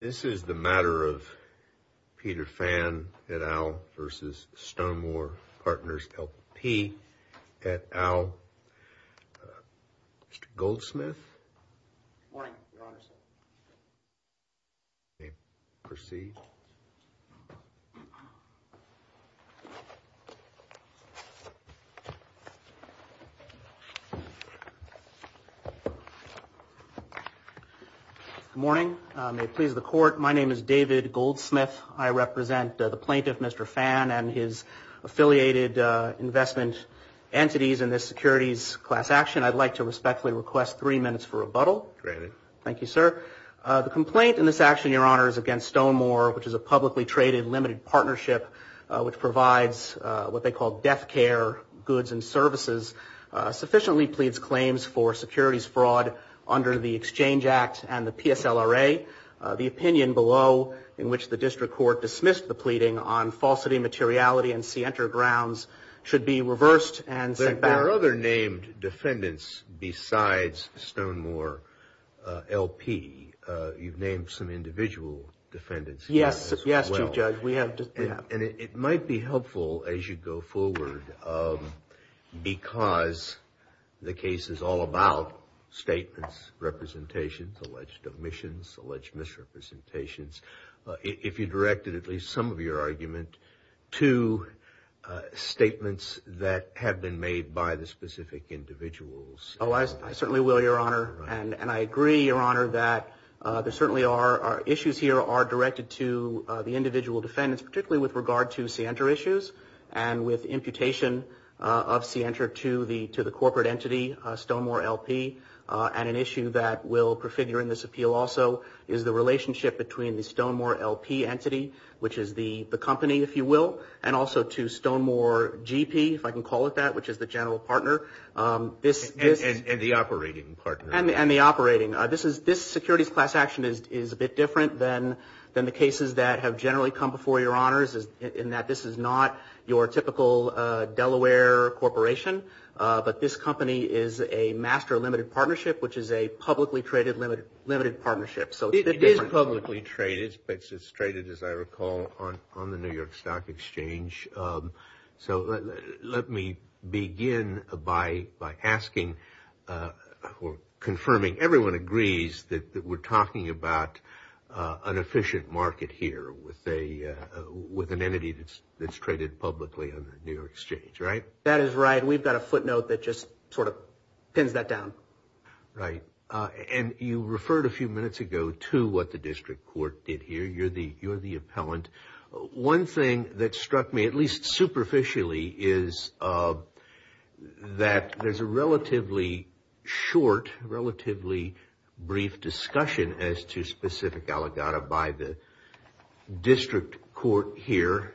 This is the matter of Peter Fan et al. v. Stonemore Partners L P et al. Mr. Goldsmith. Good morning, your honor. You may proceed. Good morning. May it please the court. My name is David Goldsmith. I represent the plaintiff, Mr. Fan, and his affiliated investment entities in this securities class action. I'd like to respectfully request three minutes for rebuttal. Granted. Thank you, sir. The complaint in this action, your honor, is against Stonemore, which is a publicly traded limited partnership which provides what they call death care goods and services, sufficiently pleads claims for securities fraud under the Exchange Act and the PSLRA. The opinion below, in which the district court dismissed the pleading on falsity, materiality, and scienter grounds, should be reversed and sent back. There are other named defendants besides Stonemore L P. You've named some individual defendants. Yes, Chief Judge, we have. And it might be helpful as you go forward because the case is all about statements, representations, alleged omissions, alleged misrepresentations. If you directed at least some of your argument to statements that have been made by the specific individuals. Oh, I certainly will, your honor. And I agree, your honor, that there certainly are issues here are directed to the individual defendants, particularly with regard to scienter issues and with imputation of scienter to the to the corporate entity, Stonemore L P. And an issue that will prefigure in this appeal also is the relationship between the Stonemore L P entity, which is the company, if you will, and also to Stonemore G P, if I can call it that, which is the general partner. And the operating partner. And the operating. This is this securities class action is a bit different than than the cases that have generally come before your honors in that this is not your typical Delaware corporation. But this company is a master limited partnership, which is a publicly traded, limited, limited partnership. So it is publicly traded. It's traded, as I recall, on on the New York Stock Exchange. So let me begin by by asking or confirming everyone agrees that we're talking about an efficient market here with a with an entity that's that's traded publicly on the New York exchange. Right. Is that a footnote that just sort of pins that down? Right. And you referred a few minutes ago to what the district court did here. You're the you're the appellant. One thing that struck me, at least superficially, is that there's a relatively short, relatively brief discussion as to specific Gallagher by the district court here.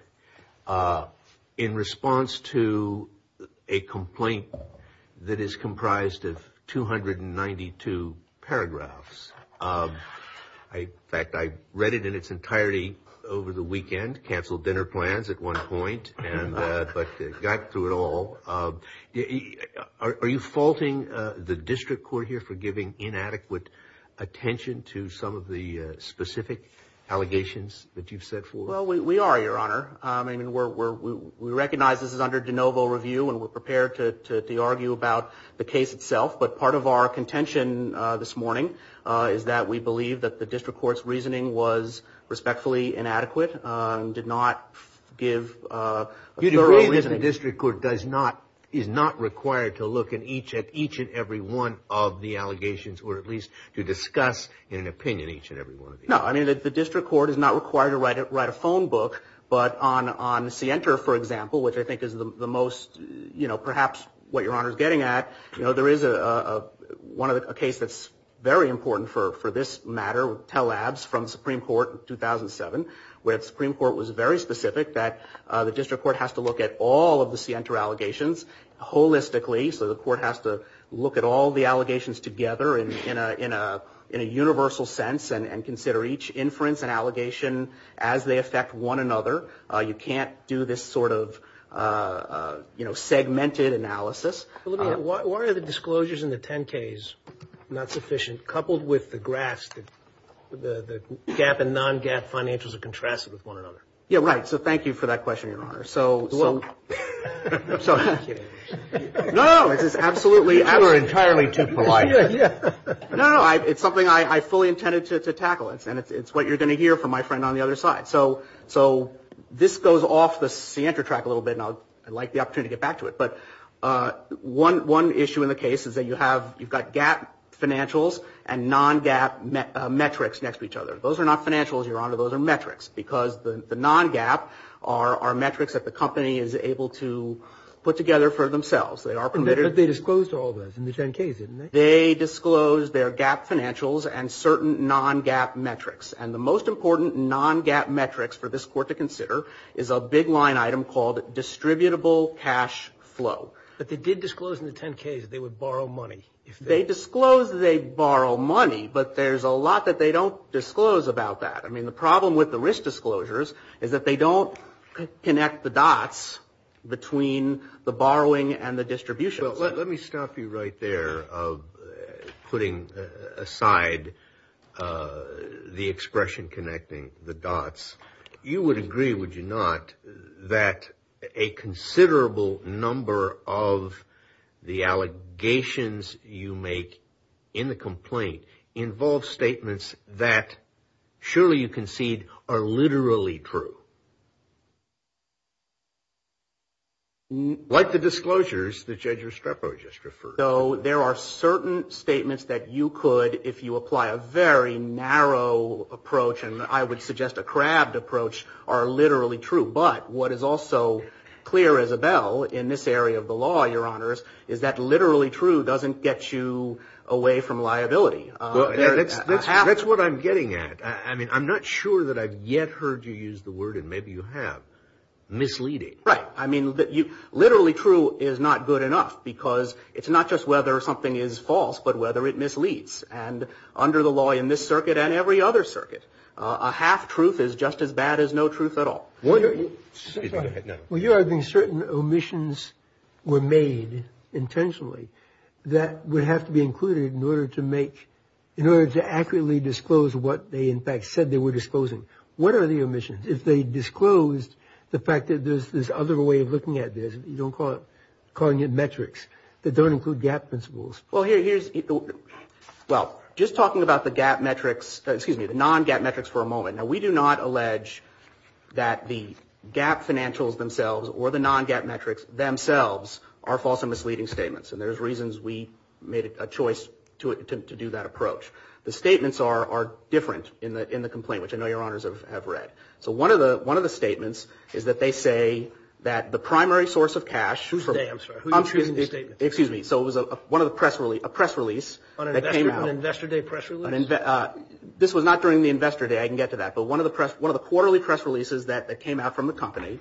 In response to a complaint that is comprised of two hundred and ninety two paragraphs. In fact, I read it in its entirety over the weekend. Canceled dinner plans at one point and but got through it all. Are you faulting the district court here for giving inadequate attention to some of the specific allegations that you've set for? Well, we are, your honor. I mean, we're we're we recognize this is under de novo review and we're prepared to argue about the case itself. But part of our contention this morning is that we believe that the district court's reasoning was respectfully inadequate and did not give you the reason the district court does not is not required to look at each at each and every one of the allegations or at least to discuss an opinion. No, I mean, the district court is not required to write it, write a phone book. But on on the center, for example, which I think is the most, you know, perhaps what your honor is getting at. You know, there is a one of the case that's very important for for this matter. Tell labs from Supreme Court in 2007 where the Supreme Court was very specific that the district court has to look at all of the center allegations holistically. So the court has to look at all the allegations together in a in a in a universal sense and consider each inference and allegation as they affect one another. You can't do this sort of, you know, segmented analysis. Why are the disclosures in the 10 case not sufficient? Coupled with the grass, the gap and non gap financials are contrasted with one another. Yeah, right. So thank you for that question, your honor. So well, so no, this is absolutely our entirely too polite. Yeah, no, it's something I fully intended to tackle. And it's what you're going to hear from my friend on the other side. So so this goes off the center track a little bit. And I'd like the opportunity to get back to it. But one one issue in the case is that you have you've got gap financials and non gap metrics next to each other. Those are not financials, your honor. Those are metrics because the non gap are metrics that the company is able to put together for themselves. They are committed. They disclosed all this in the 10 case. They disclosed their gap financials and certain non gap metrics. And the most important non gap metrics for this court to consider is a big line item called distributable cash flow. But they did disclose in the 10 case they would borrow money if they disclose they borrow money. But there's a lot that they don't disclose about that. I mean, the problem with the risk disclosures is that they don't connect the dots between the borrowing and the distribution. Well, let me stop you right there of putting aside the expression connecting the dots. You would agree, would you not, that a considerable number of the allegations you make in the complaint involve statements that surely you concede are literally true. Like the disclosures that Judge Restrepo just referred. So there are certain statements that you could, if you apply a very narrow approach, and I would suggest a crabbed approach, are literally true. But what is also clear, Isabel, in this area of the law, your honors, is that literally true doesn't get you away from liability. That's what I'm getting at. I mean, I'm not sure that I've yet heard you use the word, and maybe you have, misleading. Right. I mean, literally true is not good enough because it's not just whether something is false, but whether it misleads. And under the law in this circuit and every other circuit, a half truth is just as bad as no truth at all. Well, you're arguing certain omissions were made intentionally that would have to be included in order to make, in order to accurately disclose what they in fact said they were disclosing. What are the omissions? If they disclosed the fact that there's this other way of looking at this, you don't call it, calling it metrics, that don't include gap principles. Well, just talking about the gap metrics, excuse me, the non-gap metrics for a moment. Now, we do not allege that the gap financials themselves or the non-gap metrics themselves are false and misleading statements. And there's reasons we made a choice to do that approach. The statements are different in the complaint, which I know your honors have read. So one of the statements is that they say that the primary source of cash. Whose day? I'm sorry. Who's intruding the statement? Excuse me. So it was a press release that came out. On an investor day press release? This was not during the investor day. I can get to that. But one of the quarterly press releases that came out from the company,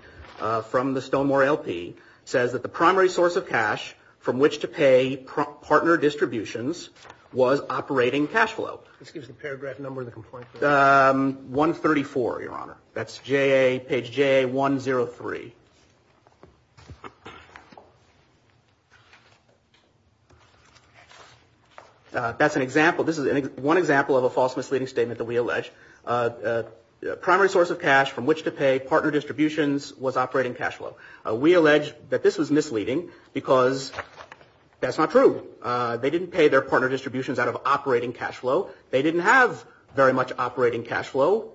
from the Stonewall LP, says that the primary source of cash from which to pay partner distributions was operating cash flow. Excuse the paragraph number in the complaint. 134, your honor. That's page JA103. That's an example. This is one example of a false misleading statement that we allege. Primary source of cash from which to pay partner distributions was operating cash flow. We allege that this was misleading because that's not true. They didn't pay their partner distributions out of operating cash flow. They didn't have very much operating cash flow.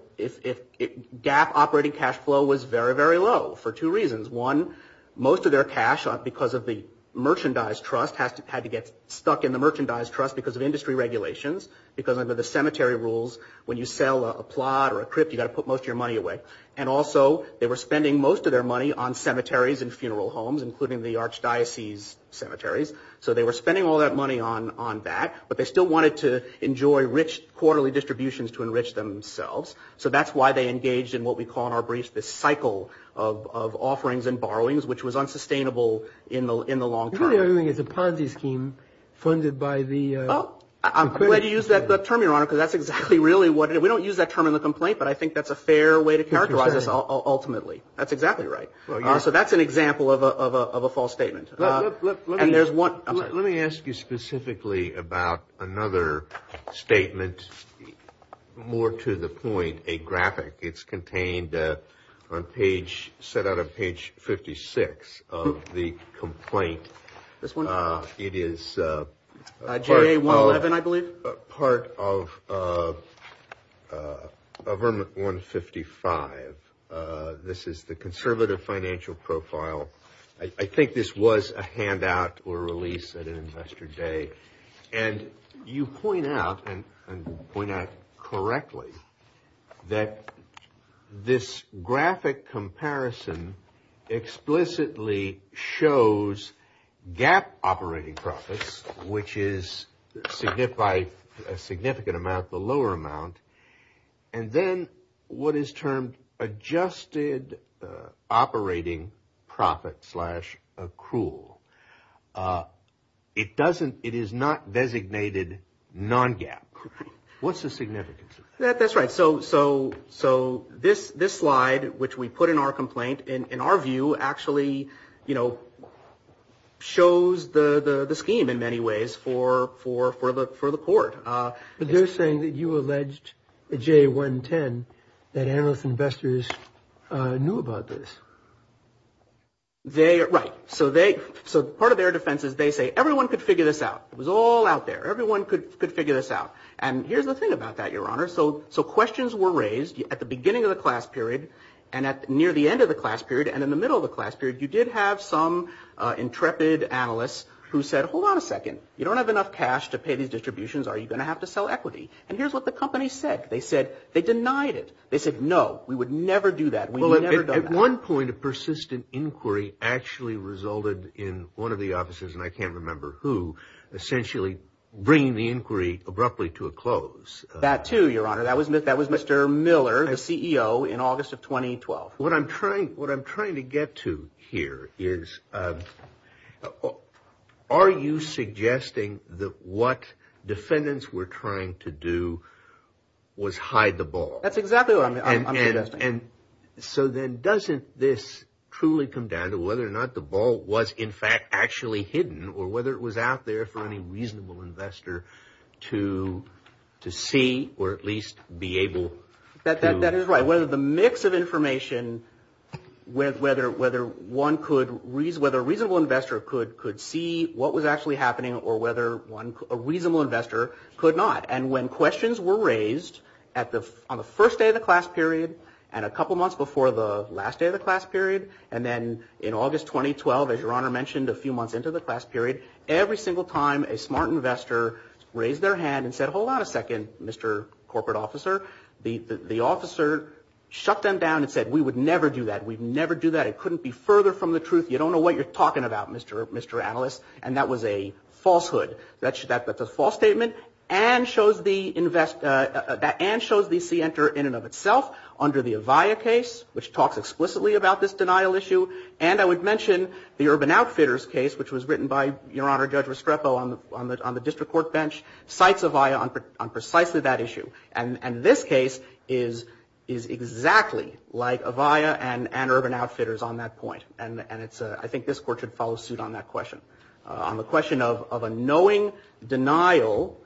Gap operating cash flow was very, very low for two reasons. One, most of their cash, because of the merchandise trust, had to get stuck in the merchandise trust because of industry regulations. Because under the cemetery rules, when you sell a plot or a crypt, you've got to put most of your money away. And also, they were spending most of their money on cemeteries and funeral homes, including the archdiocese cemeteries. So they were spending all that money on that. But they still wanted to enjoy rich quarterly distributions to enrich themselves. So that's why they engaged in what we call in our briefs this cycle of offerings and borrow, which was unsustainable in the long term. It's a Ponzi scheme funded by the. I'm going to use that term, your honor, because that's exactly really what we don't use that term in the complaint. But I think that's a fair way to characterize this. Ultimately, that's exactly right. So that's an example of a false statement. And there's one. Let me ask you specifically about another statement, more to the point, a graphic. It's contained on page set out of page fifty six of the complaint. This one. It is a J.A. one. And I believe part of government 155. This is the conservative financial profile. I think this was a handout or release at an investor day. And you point out and point out correctly that this graphic comparison explicitly shows gap operating profits, which is significant by a significant amount, the lower amount. And then what is termed adjusted operating profit slash accrual. It doesn't it is not designated non gap. What's the significance of that? That's right. So so so this this slide, which we put in our complaint in our view, actually, you know, shows the scheme in many ways for for for the for the court. But they're saying that you alleged a J.A. one ten that analysts, investors knew about this. They are right. So they. So part of their defense is they say everyone could figure this out. It was all out there. Everyone could could figure this out. And here's the thing about that, your honor. So so questions were raised at the beginning of the class period and at near the end of the class period. And in the middle of the class period, you did have some intrepid analysts who said, hold on a second. You don't have enough cash to pay these distributions. Are you going to have to sell equity? And here's what the company said. They said they denied it. They said, no, we would never do that. At one point, a persistent inquiry actually resulted in one of the offices. And I can't remember who essentially bringing the inquiry abruptly to a close. That, too, your honor, that was that was Mr. Miller, the CEO in August of 2012. What I'm trying what I'm trying to get to here is, oh, are you suggesting that what defendants were trying to do was hide the ball? That's exactly what I mean. And so then doesn't this truly come down to whether or not the ball was in fact actually hidden or whether it was out there for any reasonable investor to to see or at least be able that that is right, whether the mix of information with whether whether one could reason whether a reasonable investor could could see what was actually happening or whether one a reasonable investor could not. And when questions were raised at the on the first day of the class period and a couple of months before the last day of the class period. And then in August 2012, as your honor mentioned, a few months into the class period. Every single time a smart investor raised their hand and said, hold on a second, Mr. Corporate officer, the officer shut them down and said we would never do that. We'd never do that. It couldn't be further from the truth. You don't know what you're talking about, Mr. Mr. Analyst. And that was a falsehood that that's a false statement. And shows the invest that and shows the C enter in and of itself under the Avaya case, which talks explicitly about this denial issue. And I would mention the urban outfitters case, which was written by your honor, Judge Restrepo on the on the district court bench, cites Avaya on precisely that issue. And this case is is exactly like Avaya and an urban outfitters on that point. And it's I think this court should follow suit on that question on the question of of a knowing denial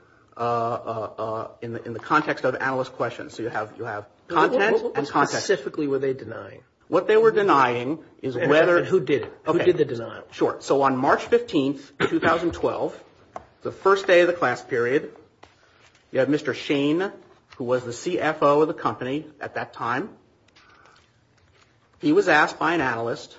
in the context of analyst questions. So you have you have content and content. Specifically, were they denying what they were denying? Is whether who did the design short? So on March 15th, 2012, the first day of the class period, you have Mr. Shane, who was the CFO of the company at that time. He was asked by an analyst.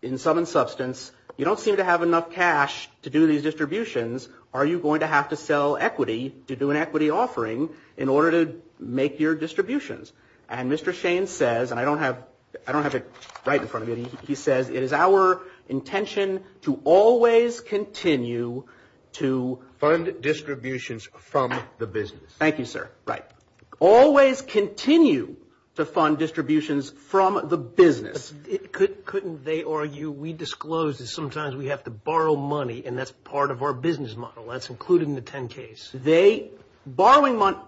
In sum and substance, you don't seem to have enough cash to do these distributions. Are you going to have to sell equity to do an equity offering in order to make your distributions? And Mr. Shane says and I don't have I don't have it right in front of me. He says it is our intention to always continue to fund distributions from the business. Thank you, sir. Right. Always continue to fund distributions from the business. Couldn't they argue we disclosed that sometimes we have to borrow money and that's part of our business model. That's included in the 10 case. They borrowing money.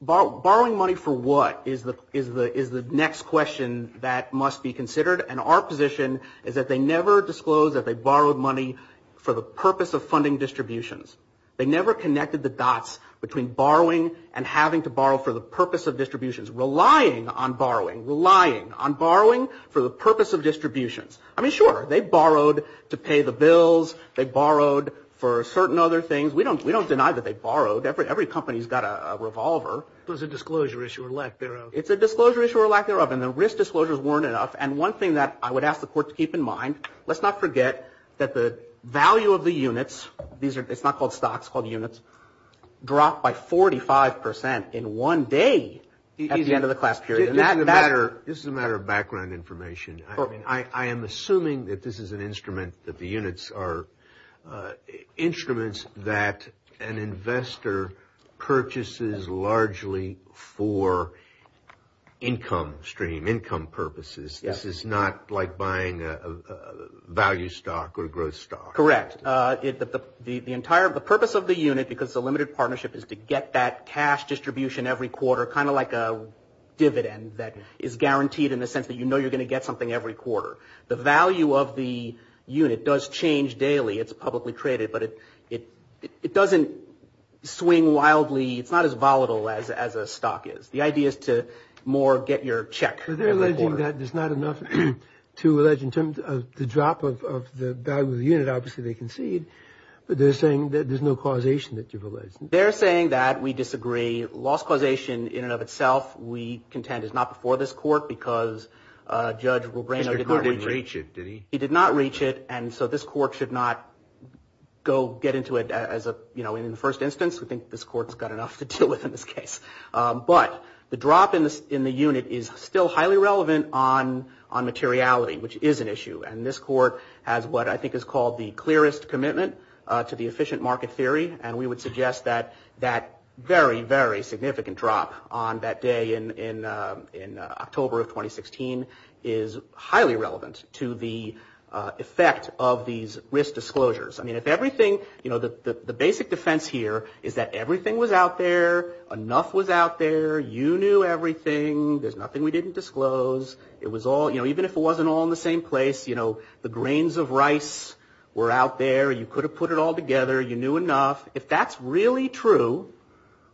Borrowing money for what is the is the is the next question that must be considered. And our position is that they never disclosed that they borrowed money for the purpose of funding distributions. They never connected the dots between borrowing and having to borrow for the purpose of distributions. Relying on borrowing, relying on borrowing for the purpose of distributions. I mean, sure, they borrowed to pay the bills. They borrowed for certain other things. We don't we don't deny that they borrowed every every company's got a revolver. It was a disclosure issue or lack thereof. It's a disclosure issue or lack thereof. And the risk disclosures weren't enough. And one thing that I would ask the court to keep in mind, let's not forget that the value of the units. These are it's not called stocks, called units drop by forty five percent in one day. He's at the end of the class period and that matter. This is a matter of background information. I mean, I am assuming that this is an instrument that the units are instruments that an investor purchases largely for income stream income purposes. This is not like buying a value stock or growth stock. Correct. The entire purpose of the unit, because the limited partnership is to get that cash distribution every quarter, kind of like a dividend that is guaranteed in the sense that, you know, you're going to get something every quarter. The value of the unit does change daily. It's publicly traded, but it doesn't swing wildly. It's not as volatile as as a stock is. The idea is to more get your check. But they're alleging that there's not enough to allege in terms of the drop of the value of the unit. Obviously, they concede. But they're saying that there's no causation that you've alleged. They're saying that we disagree. Lost causation in and of itself. We contend is not before this court because Judge Rebrano did not reach it. He did not reach it. And so this court should not go get into it as a, you know, in the first instance. We think this court's got enough to deal with in this case. But the drop in the unit is still highly relevant on materiality, which is an issue. And this court has what I think is called the clearest commitment to the efficient market theory. And we would suggest that that very, very significant drop on that day in October of 2016 is highly relevant to the effect of these risk disclosures. I mean, if everything you know, the basic defense here is that everything was out there. Enough was out there. You knew everything. There's nothing we didn't disclose. It was all, you know, even if it wasn't all in the same place, you know, the grains of rice were out there. You could have put it all together. You knew enough. If that's really true,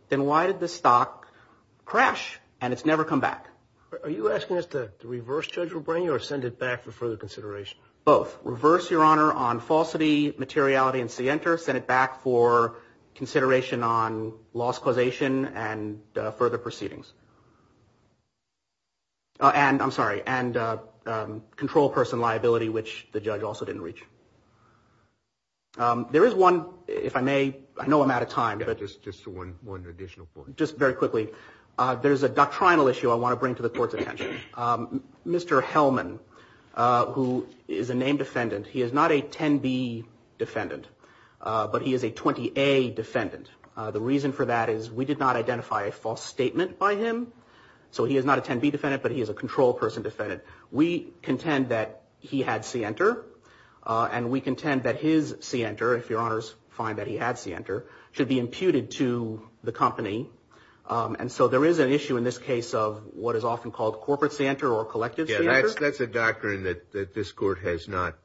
then why did the stock crash and it's never come back? Are you asking us to reverse Judge Rebrano or send it back for further consideration? Both reverse your honor on falsity materiality and see enter. Send it back for consideration on loss causation and further proceedings. And I'm sorry, and control person liability, which the judge also didn't reach. There is one, if I may. I know I'm out of time, but it's just one more additional point. Just very quickly, there's a doctrinal issue I want to bring to the court's attention. Mr. Hellman, who is a named defendant, he is not a 10b defendant, but he is a 20a defendant. The reason for that is we did not identify a false statement by him. So he is not a 10b defendant, but he is a control person defendant. We contend that he had see enter and we contend that his see enter. If your honors find that he had see enter should be imputed to the company. And so there is an issue in this case of what is often called corporate center or collective. That's a doctrine that this court has not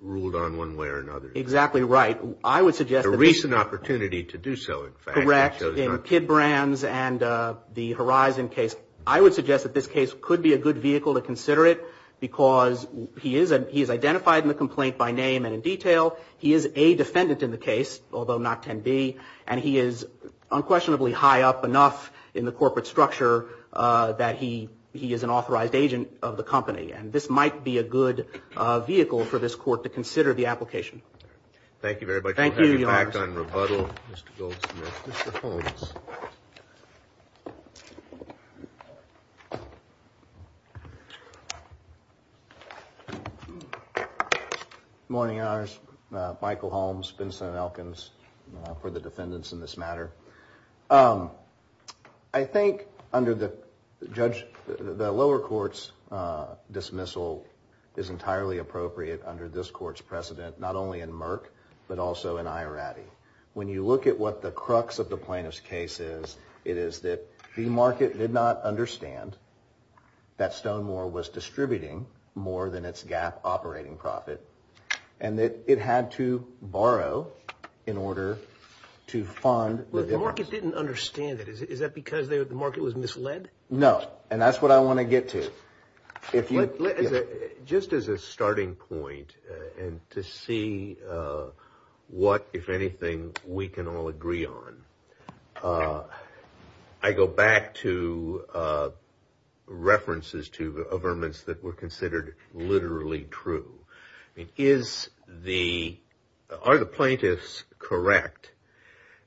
ruled on one way or another. Exactly right. I would suggest a recent opportunity to do so. Correct. In Kidd Brands and the Horizon case. I would suggest that this case could be a good vehicle to consider it because he is identified in the complaint by name and in detail. He is a defendant in the case, although not 10b. And he is unquestionably high up enough in the corporate structure that he is an authorized agent of the company. And this might be a good vehicle for this court to consider the application. Thank you very much. Good morning, your honors. Michael Holmes, Vincent Elkins for the defendants in this matter. I think under the judge, the lower court's dismissal is entirely appropriate under this court's precedent, not only in Merck, but also in Ierati. When you look at what the crux of the plaintiff's case is, it is that the market did not understand that Stonewall was distributing more than its gap operating profit. And that it had to borrow in order to fund. The market didn't understand it. Is that because the market was misled? No. And that's what I want to get to. Just as a starting point and to see what, if anything, we can all agree on. I go back to references to the averments that were considered literally true. Is the, are the plaintiffs correct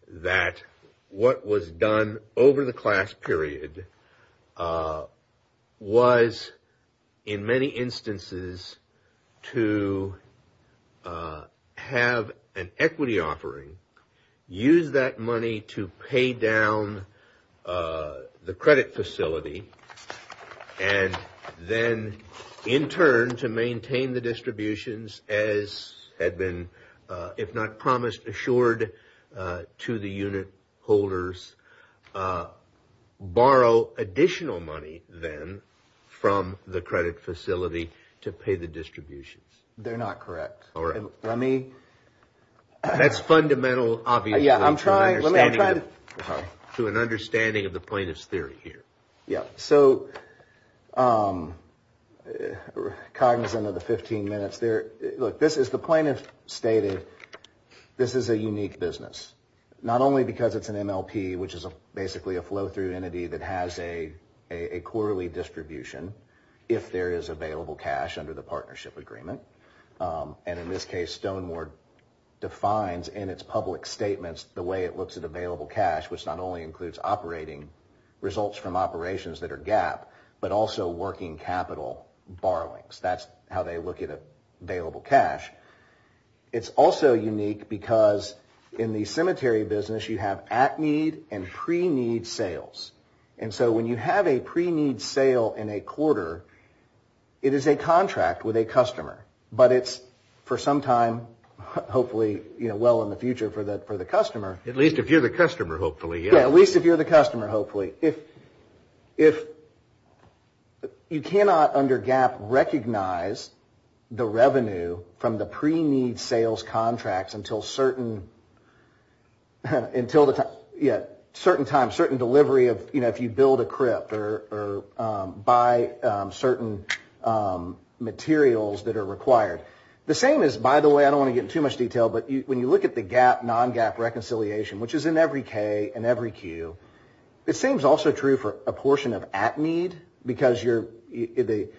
that what was done over the class period was in many instances to have an equity offering, use that money to pay down the credit facility. And then in turn to maintain the distributions as had been, if not promised, assured to the unit holders, borrow additional money then from the credit facility to pay the distributions. They're not correct. All right. Let me. That's fundamental, obviously. Yeah, I'm trying. To an understanding of the plaintiff's theory here. Yeah, so. Cognizant of the 15 minutes there. Look, this is the plaintiff stated. This is a unique business, not only because it's an MLP, which is basically a flow through entity that has a quarterly distribution. If there is available cash under the partnership agreement. And in this case, stoneward defines in its public statements, the way it looks at available cash, which not only includes operating results from operations that are gap, but also working capital borrowings. That's how they look at available cash. It's also unique because in the cemetery business, you have at need and pre need sales. And so when you have a pre need sale in a quarter, it is a contract with a customer. But it's for some time, hopefully, you know, well in the future for the for the customer. At least if you're the customer, hopefully. Yeah, at least if you're the customer, hopefully. If. If. You cannot under gap recognize the revenue from the pre need sales contracts until certain. Until a certain time, certain delivery of, you know, if you build a crypt or buy certain materials that are required. The same is, by the way, I don't want to get too much detail. But when you look at the gap, non gap reconciliation, which is in every K and every Q, it seems also true for a portion of at need because you're in the.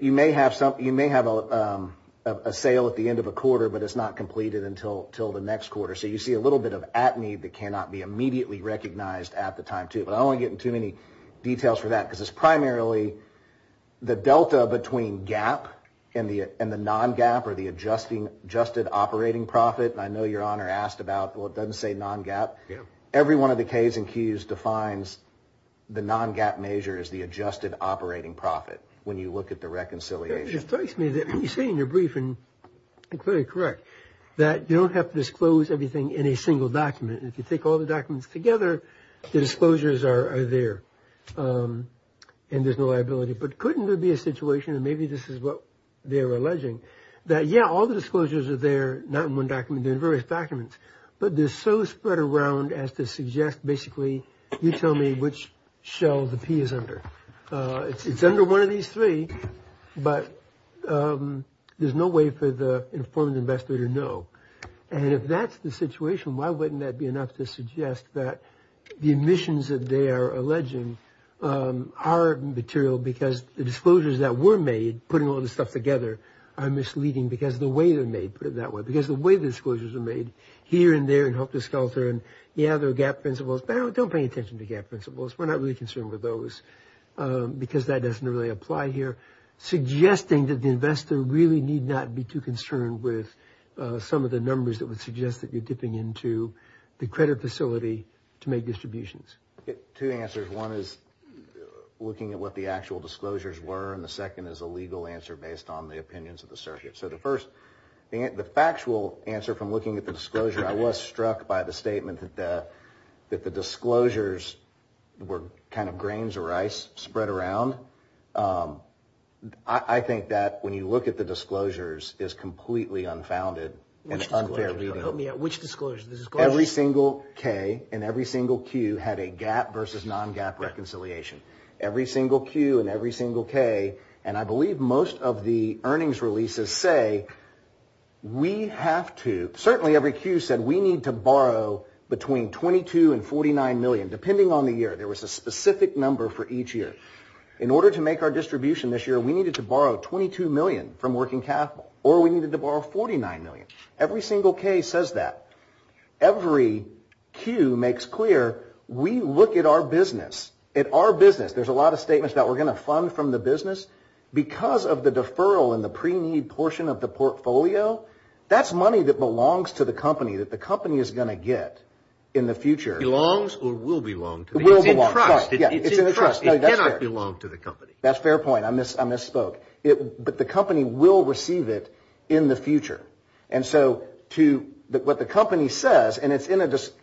You may have some. You may have a sale at the end of a quarter, but it's not completed until till the next quarter. So you see a little bit of at need that cannot be immediately recognized at the time, too. But I only get too many details for that because it's primarily the delta between gap and the and the non gap or the adjusting adjusted operating profit. I know your honor asked about. Well, it doesn't say non gap. Every one of the K's and Q's defines the non gap measure is the adjusted operating profit. When you look at the reconciliation. It strikes me that you say in your brief and clearly correct that you don't have to disclose everything in a single document. If you take all the documents together, the disclosures are there and there's no liability. But couldn't there be a situation? And maybe this is what they're alleging that. Yeah, all the disclosures are there, not one document in various documents. But there's so spread around as to suggest basically you tell me which shell the P is under. It's under one of these three. But there's no way for the informed investor to know. And if that's the situation, why wouldn't that be enough to suggest that the emissions that they are alleging are material? Because the disclosures that were made putting all this stuff together are misleading because the way they're made that way, because the way the disclosures are made here and there and help this culture. And, yeah, there are gap principles. Don't pay attention to gap principles. We're not really concerned with those because that doesn't really apply here. Suggesting that the investor really need not be too concerned with some of the numbers that would suggest that you're dipping into the credit facility to make distributions. Two answers. One is looking at what the actual disclosures were. And the second is a legal answer based on the opinions of the circuit. So the first the factual answer from looking at the disclosure, I was struck by the statement that the disclosures were kind of grains of rice spread around. I think that when you look at the disclosures, it's completely unfounded and unfair. Which disclosures? Every single K and every single Q had a gap versus non-gap reconciliation. Every single Q and every single K, and I believe most of the earnings releases say we have to, certainly every Q said we need to borrow between 22 and 49 million, depending on the year. There was a specific number for each year. In order to make our distribution this year, we needed to borrow 22 million from working capital or we needed to borrow 49 million. Every single K says that. Every Q makes clear we look at our business. At our business, there's a lot of statements that we're going to fund from the business. Because of the deferral in the pre-need portion of the portfolio, that's money that belongs to the company that the company is going to get in the future. Belongs or will belong to the company. Will belong. It's in the trust. It cannot belong to the company. That's a fair point. I misspoke. But the company will receive it in the future. And so what the company says, and it's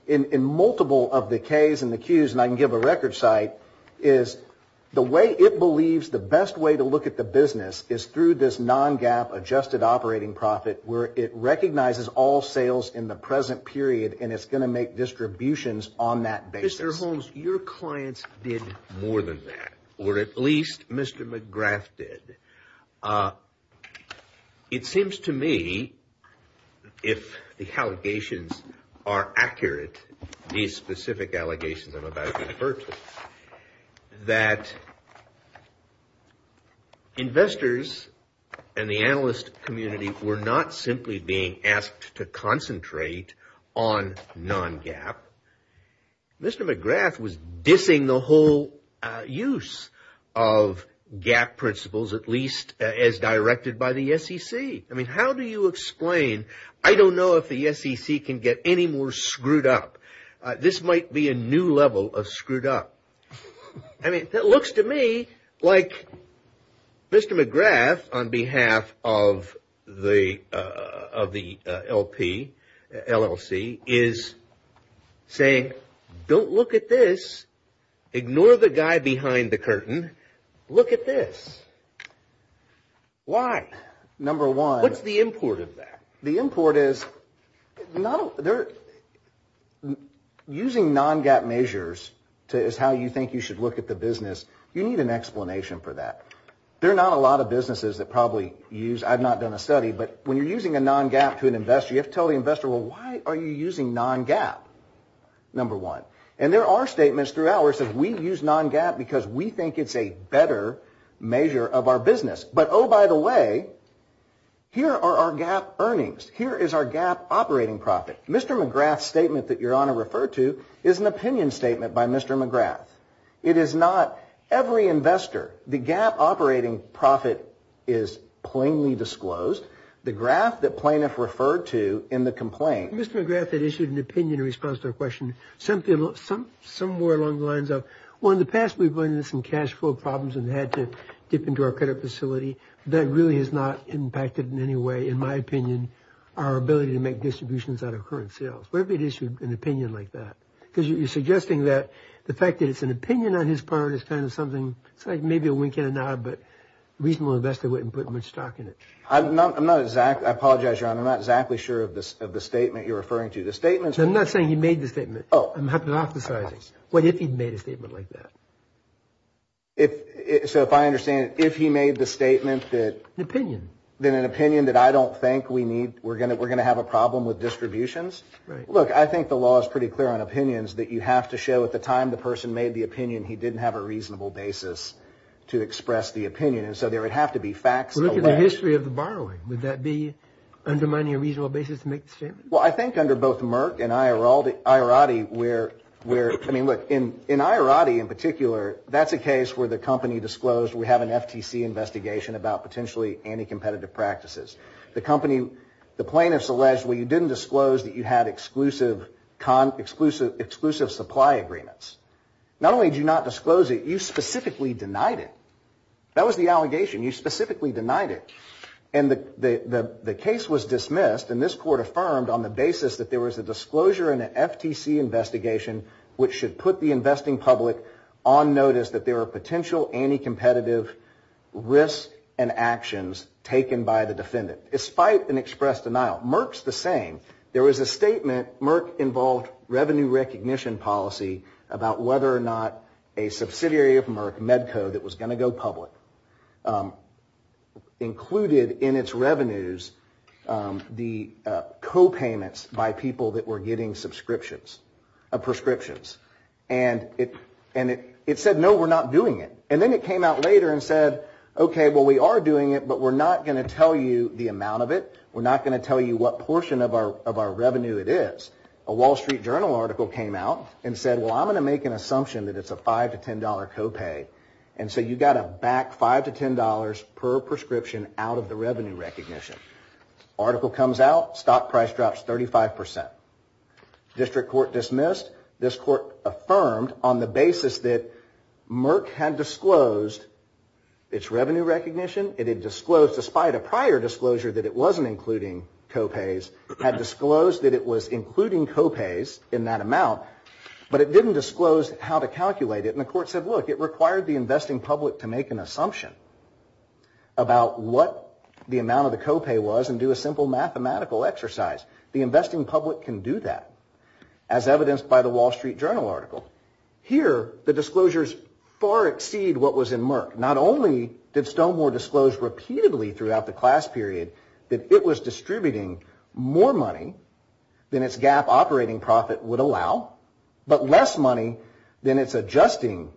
in multiple of the Ks and the Qs, and I can give a record site, is the way it believes the best way to look at the business is through this non-gap adjusted operating profit where it recognizes all sales in the present period and it's going to make distributions on that basis. Mr. Holmes, your clients did more than that, or at least Mr. McGrath did. It seems to me, if the allegations are accurate, these specific allegations I'm about to refer to, that investors and the analyst community were not simply being asked to concentrate on non-gap. Mr. McGrath was dissing the whole use of gap principles, at least as directed by the SEC. I mean, how do you explain, I don't know if the SEC can get any more screwed up. This might be a new level of screwed up. I mean, it looks to me like Mr. McGrath, on behalf of the LP, LLC, is saying, don't look at this, ignore the guy behind the curtain, look at this. Why? Number one. What's the import of that? The import is using non-gap measures is how you think you should look at the business. You need an explanation for that. There are not a lot of businesses that probably use, I've not done a study, but when you're using a non-gap to an investor, you have to tell the investor, well, why are you using non-gap, number one? And there are statements throughout where it says, we use non-gap because we think it's a better measure of our business. But, oh, by the way, here are our gap earnings. Here is our gap operating profit. Mr. McGrath's statement that Your Honor referred to is an opinion statement by Mr. McGrath. It is not every investor. The gap operating profit is plainly disclosed. The graph that plaintiff referred to in the complaint. Mr. McGrath had issued an opinion in response to our question. Somewhere along the lines of, well, in the past, we've run into some cash flow problems and had to dip into our credit facility. That really has not impacted in any way, in my opinion, our ability to make distributions out of current sales. Where have you issued an opinion like that? Because you're suggesting that the fact that it's an opinion on his part is kind of something, it's like maybe a wink and a nod, but a reasonable investor wouldn't put much stock in it. I apologize, Your Honor. I'm not exactly sure of the statement you're referring to. I'm not saying he made the statement. I'm hypothesizing. What if he made a statement like that? So if I understand it, if he made the statement that... An opinion. Then an opinion that I don't think we need, we're going to have a problem with distributions? Right. Look, I think the law is pretty clear on opinions that you have to show at the time the person made the opinion, he didn't have a reasonable basis to express the opinion. And so there would have to be facts... Look at the history of the borrowing. Would that be undermining a reasonable basis to make the statement? Well, I think under both Merck and Iorati, where, I mean, look, in Iorati in particular, that's a case where the company disclosed we have an FTC investigation about potentially anti-competitive practices. The company, the plaintiffs alleged, well, you didn't disclose that you had exclusive supply agreements. Not only did you not disclose it, you specifically denied it. That was the allegation. You specifically denied it. And the case was dismissed, and this court affirmed on the basis that there was a disclosure in an FTC investigation which should put the investing public on notice that there are potential anti-competitive risks and actions taken by the defendant, despite an express denial. Merck's the same. There was a statement, Merck involved revenue recognition policy, about whether or not a subsidiary of Merck, Medco, that was going to go public, included in its revenues the copayments by people that were getting subscriptions, prescriptions. And it said, no, we're not doing it. And then it came out later and said, okay, well, we are doing it, but we're not going to tell you the amount of it. We're not going to tell you what portion of our revenue it is. A Wall Street Journal article came out and said, well, I'm going to make an assumption that it's a $5 to $10 copay. And so you've got to back $5 to $10 per prescription out of the revenue recognition. Article comes out, stock price drops 35%. District court dismissed. This court affirmed on the basis that Merck had disclosed its revenue recognition. It had disclosed, despite a prior disclosure that it wasn't including copays, had disclosed that it was including copays in that amount, but it didn't disclose how to calculate it. And the court said, look, it required the investing public to make an assumption about what the amount of the copay was and do a simple mathematical exercise. The investing public can do that, as evidenced by the Wall Street Journal article. Here, the disclosures far exceed what was in Merck. Not only did Stonemore disclose repeatedly throughout the class period that it was distributing more money than its GAAP operating profit would allow, but less money than its adjusted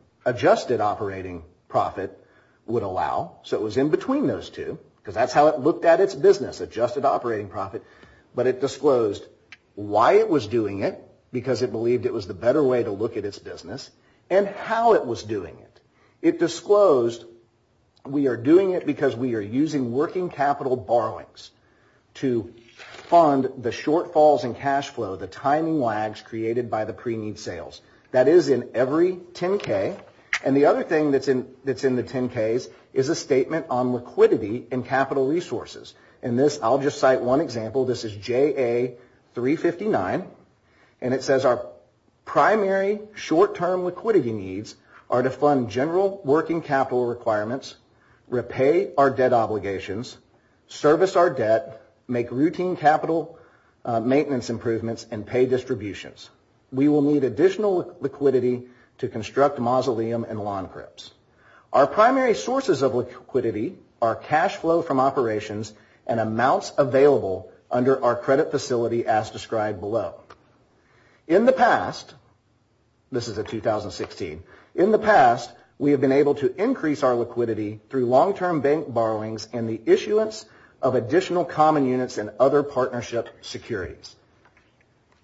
operating profit would allow. So it was in between those two, because that's how it looked at its business, adjusted operating profit. But it disclosed why it was doing it, because it believed it was the better way to look at its business, and how it was doing it. It disclosed, we are doing it because we are using working capital borrowings to fund the shortfalls in cash flow, the timing lags created by the pre-need sales. That is in every 10K. And the other thing that's in the 10Ks is a statement on liquidity and capital resources. In this, I'll just cite one example. This is JA359. And it says, our primary short-term liquidity needs are to fund general working capital requirements, repay our debt obligations, service our debt, make routine capital maintenance improvements, and pay distributions. We will need additional liquidity to construct mausoleum and lawn cribs. Our primary sources of liquidity are cash flow from operations and amounts available under our credit facility, as described below. In the past, this is a 2016, in the past, we have been able to increase our liquidity through long-term bank borrowings and the issuance of additional common units and other partnership securities.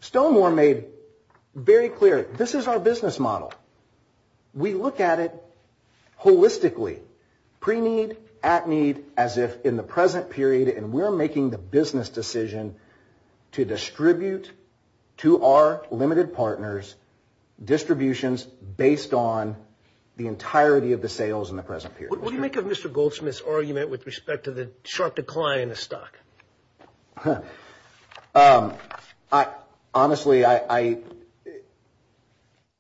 Stonewall made very clear, this is our business model. We look at it holistically, pre-need, at-need, as if in the present period, and we're making the business decision to distribute to our limited partners distributions based on the entirety of the sales in the present period. What do you make of Mr. Goldsmith's argument with respect to the sharp decline in the stock? Honestly,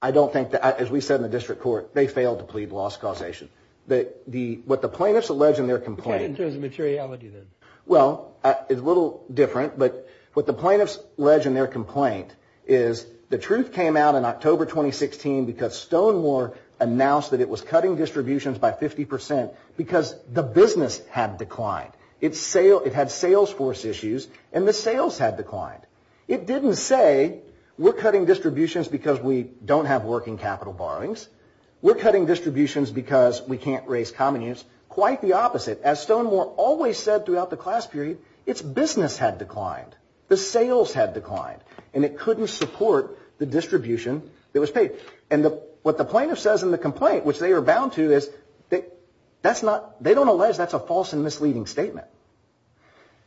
I don't think that, as we said in the district court, they failed to plead loss causation. What the plaintiffs allege in their complaint. In terms of materiality, then. Well, it's a little different, but what the plaintiffs allege in their complaint is the truth came out in October 2016 because Stonewall announced that it was cutting distributions by 50% because the business had declined. It had sales force issues, and the sales had declined. It didn't say, we're cutting distributions because we don't have working capital borrowings. We're cutting distributions because we can't raise common units. Quite the opposite. As Stonewall always said throughout the class period, its business had declined. The sales had declined, and it couldn't support the distribution that was paid. And what the plaintiff says in the complaint, which they are bound to, they don't allege that's a false and misleading statement.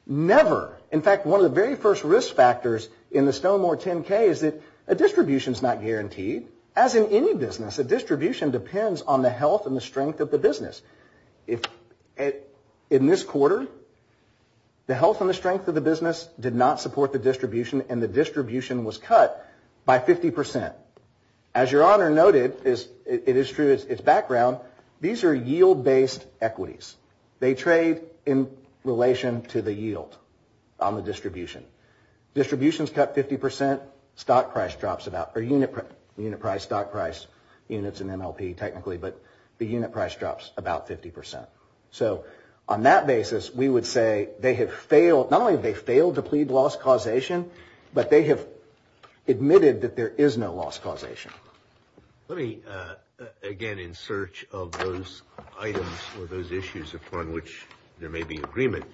Never. In fact, one of the very first risk factors in the Stonewall 10-K is that a distribution is not guaranteed. As in any business, a distribution depends on the health and the strength of the business. In this quarter, the health and the strength of the business did not support the distribution, and the distribution was cut by 50%. As Your Honor noted, it is true, its background, these are yield-based equities. They trade in relation to the yield on the distribution. Distributions cut 50%, stock price drops about, or unit price, stock price, units and MLP technically, but the unit price drops about 50%. So on that basis, we would say they have failed, not only have they failed to plead loss causation, but they have admitted that there is no loss causation. Let me, again, in search of those items or those issues upon which there may be agreement,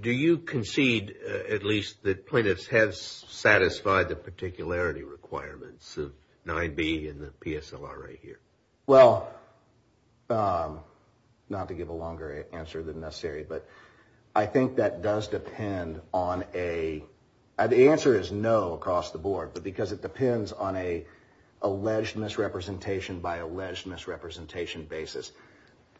do you concede at least that plaintiffs have satisfied the particularity requirements of 9B and the PSLR right here? Well, not to give a longer answer than necessary, but I think that does depend on a, the answer is no across the board, but because it depends on an alleged misrepresentation by alleged misrepresentation basis.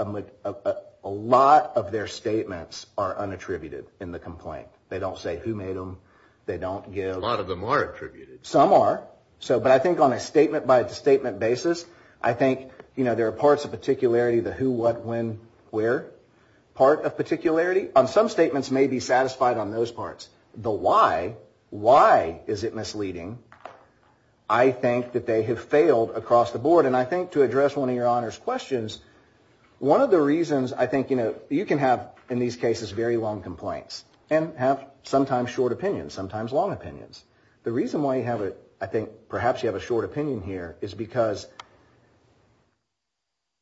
A lot of their statements are unattributed in the complaint. They don't say who made them, they don't give. A lot of them are attributed. Some are, but I think on a statement-by-statement basis, I think there are parts of particularity, the who, what, when, where. Part of particularity on some statements may be satisfied on those parts. The why, why is it misleading? I think that they have failed across the board, and I think to address one of your Honor's questions, one of the reasons I think, you know, you can have, in these cases, very long complaints and have sometimes short opinions, sometimes long opinions. The reason why you have a, I think perhaps you have a short opinion here is because,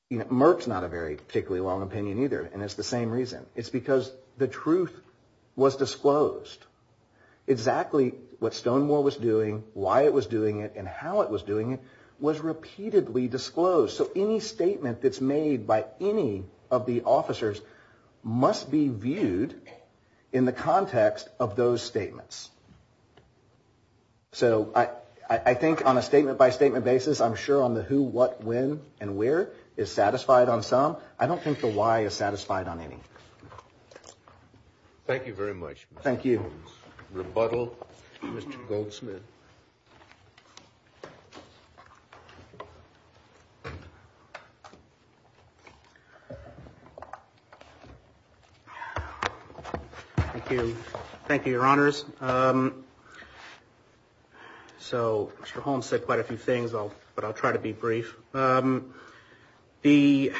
you know, I don't have a very particularly long opinion either, and it's the same reason. It's because the truth was disclosed. Exactly what Stonewall was doing, why it was doing it, and how it was doing it was repeatedly disclosed. So any statement that's made by any of the officers must be viewed in the context of those statements. So I think on a statement-by-statement basis, I'm sure on the who, what, when, and where is satisfied on some. I don't think the why is satisfied on any. Thank you very much. Thank you. Rebuttal, Mr. Goldsmith. Thank you. Thank you, Your Honors. So Mr. Holmes said quite a few things, but I'll try to be brief. The,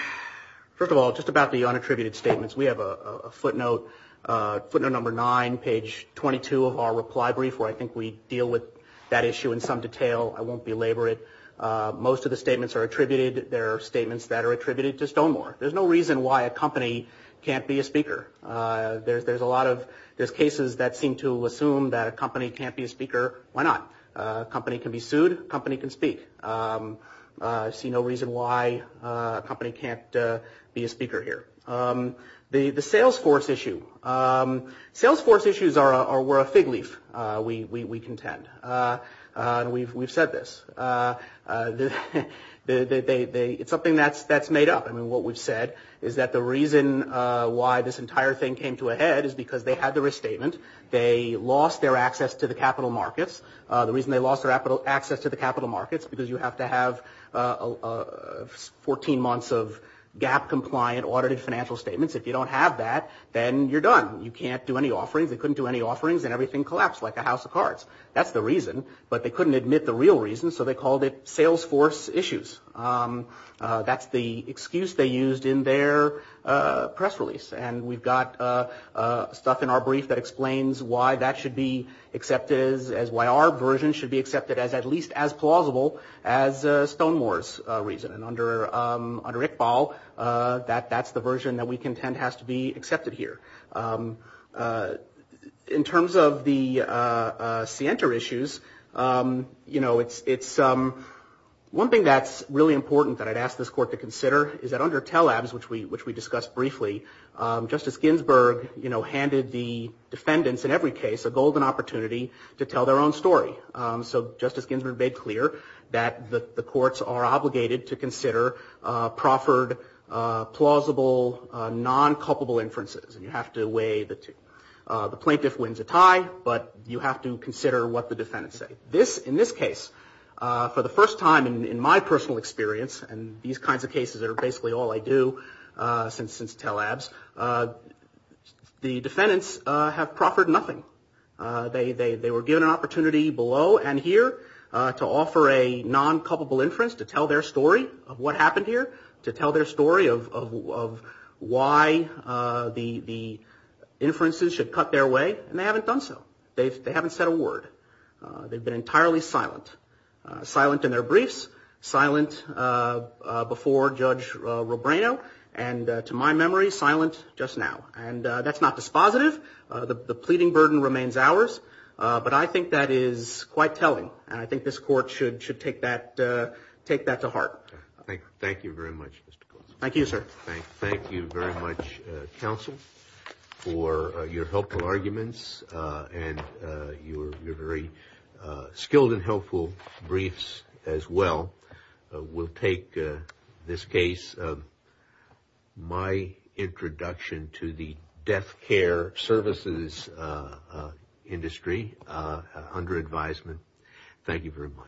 first of all, just about the unattributed statements. We have a footnote, footnote number nine, page 22 of our reply brief where I think we deal with that issue in some detail. I won't belabor it. Most of the statements are attributed. There are statements that are attributed to Stonewall. There's no reason why a company can't be a speaker. There's a lot of cases that seem to assume that a company can't be a speaker. Why not? A company can be sued. A company can speak. I see no reason why a company can't be a speaker here. The sales force issue. Sales force issues are a fig leaf, we contend. We've said this. It's something that's made up. I mean, what we've said is that the reason why this entire thing came to a head is because they had the risk statement. They lost their access to the capital markets. The reason they lost their access to the capital markets, because you have to have 14 months of gap compliant audited financial statements. If you don't have that, then you're done. You can't do any offerings. They couldn't do any offerings, and everything collapsed like a house of cards. That's the reason. But they couldn't admit the real reason, so they called it sales force issues. That's the excuse they used in their press release. And we've got stuff in our brief that explains why that should be accepted as, why our version should be accepted as at least as plausible as Stonewall's reason. And under Iqbal, that's the version that we contend has to be accepted here. In terms of the Sienta issues, you know, it's, one thing that's really important that I'd ask this court to consider is that under Telabs, which we discussed briefly, Justice Ginsburg handed the defendants in every case a golden opportunity to tell their own story. So Justice Ginsburg made clear that the courts are obligated to consider proffered, plausible, non-culpable inferences. And you have to weigh the plaintiff wins a tie, but you have to consider what the defendants say. This, in this case, for the first time in my personal experience, and these kinds of cases are basically all I do since Telabs, the defendants have proffered nothing. They were given an opportunity below and here to offer a non-culpable inference to tell their story of what happened here, to tell their story of why the inferences should cut their way, and they haven't done so. They haven't said a word. They've been entirely silent. Silent in their briefs, silent before Judge Robreno, and to my memory, silent just now. And that's not dispositive. The pleading burden remains ours. But I think that is quite telling. And I think this court should take that to heart. Thank you very much. Thank you, sir. Thank you very much, counsel, for your helpful arguments and your very skilled and helpful briefs as well. We'll take this case, my introduction to the death care services industry under advisement. Thank you very much.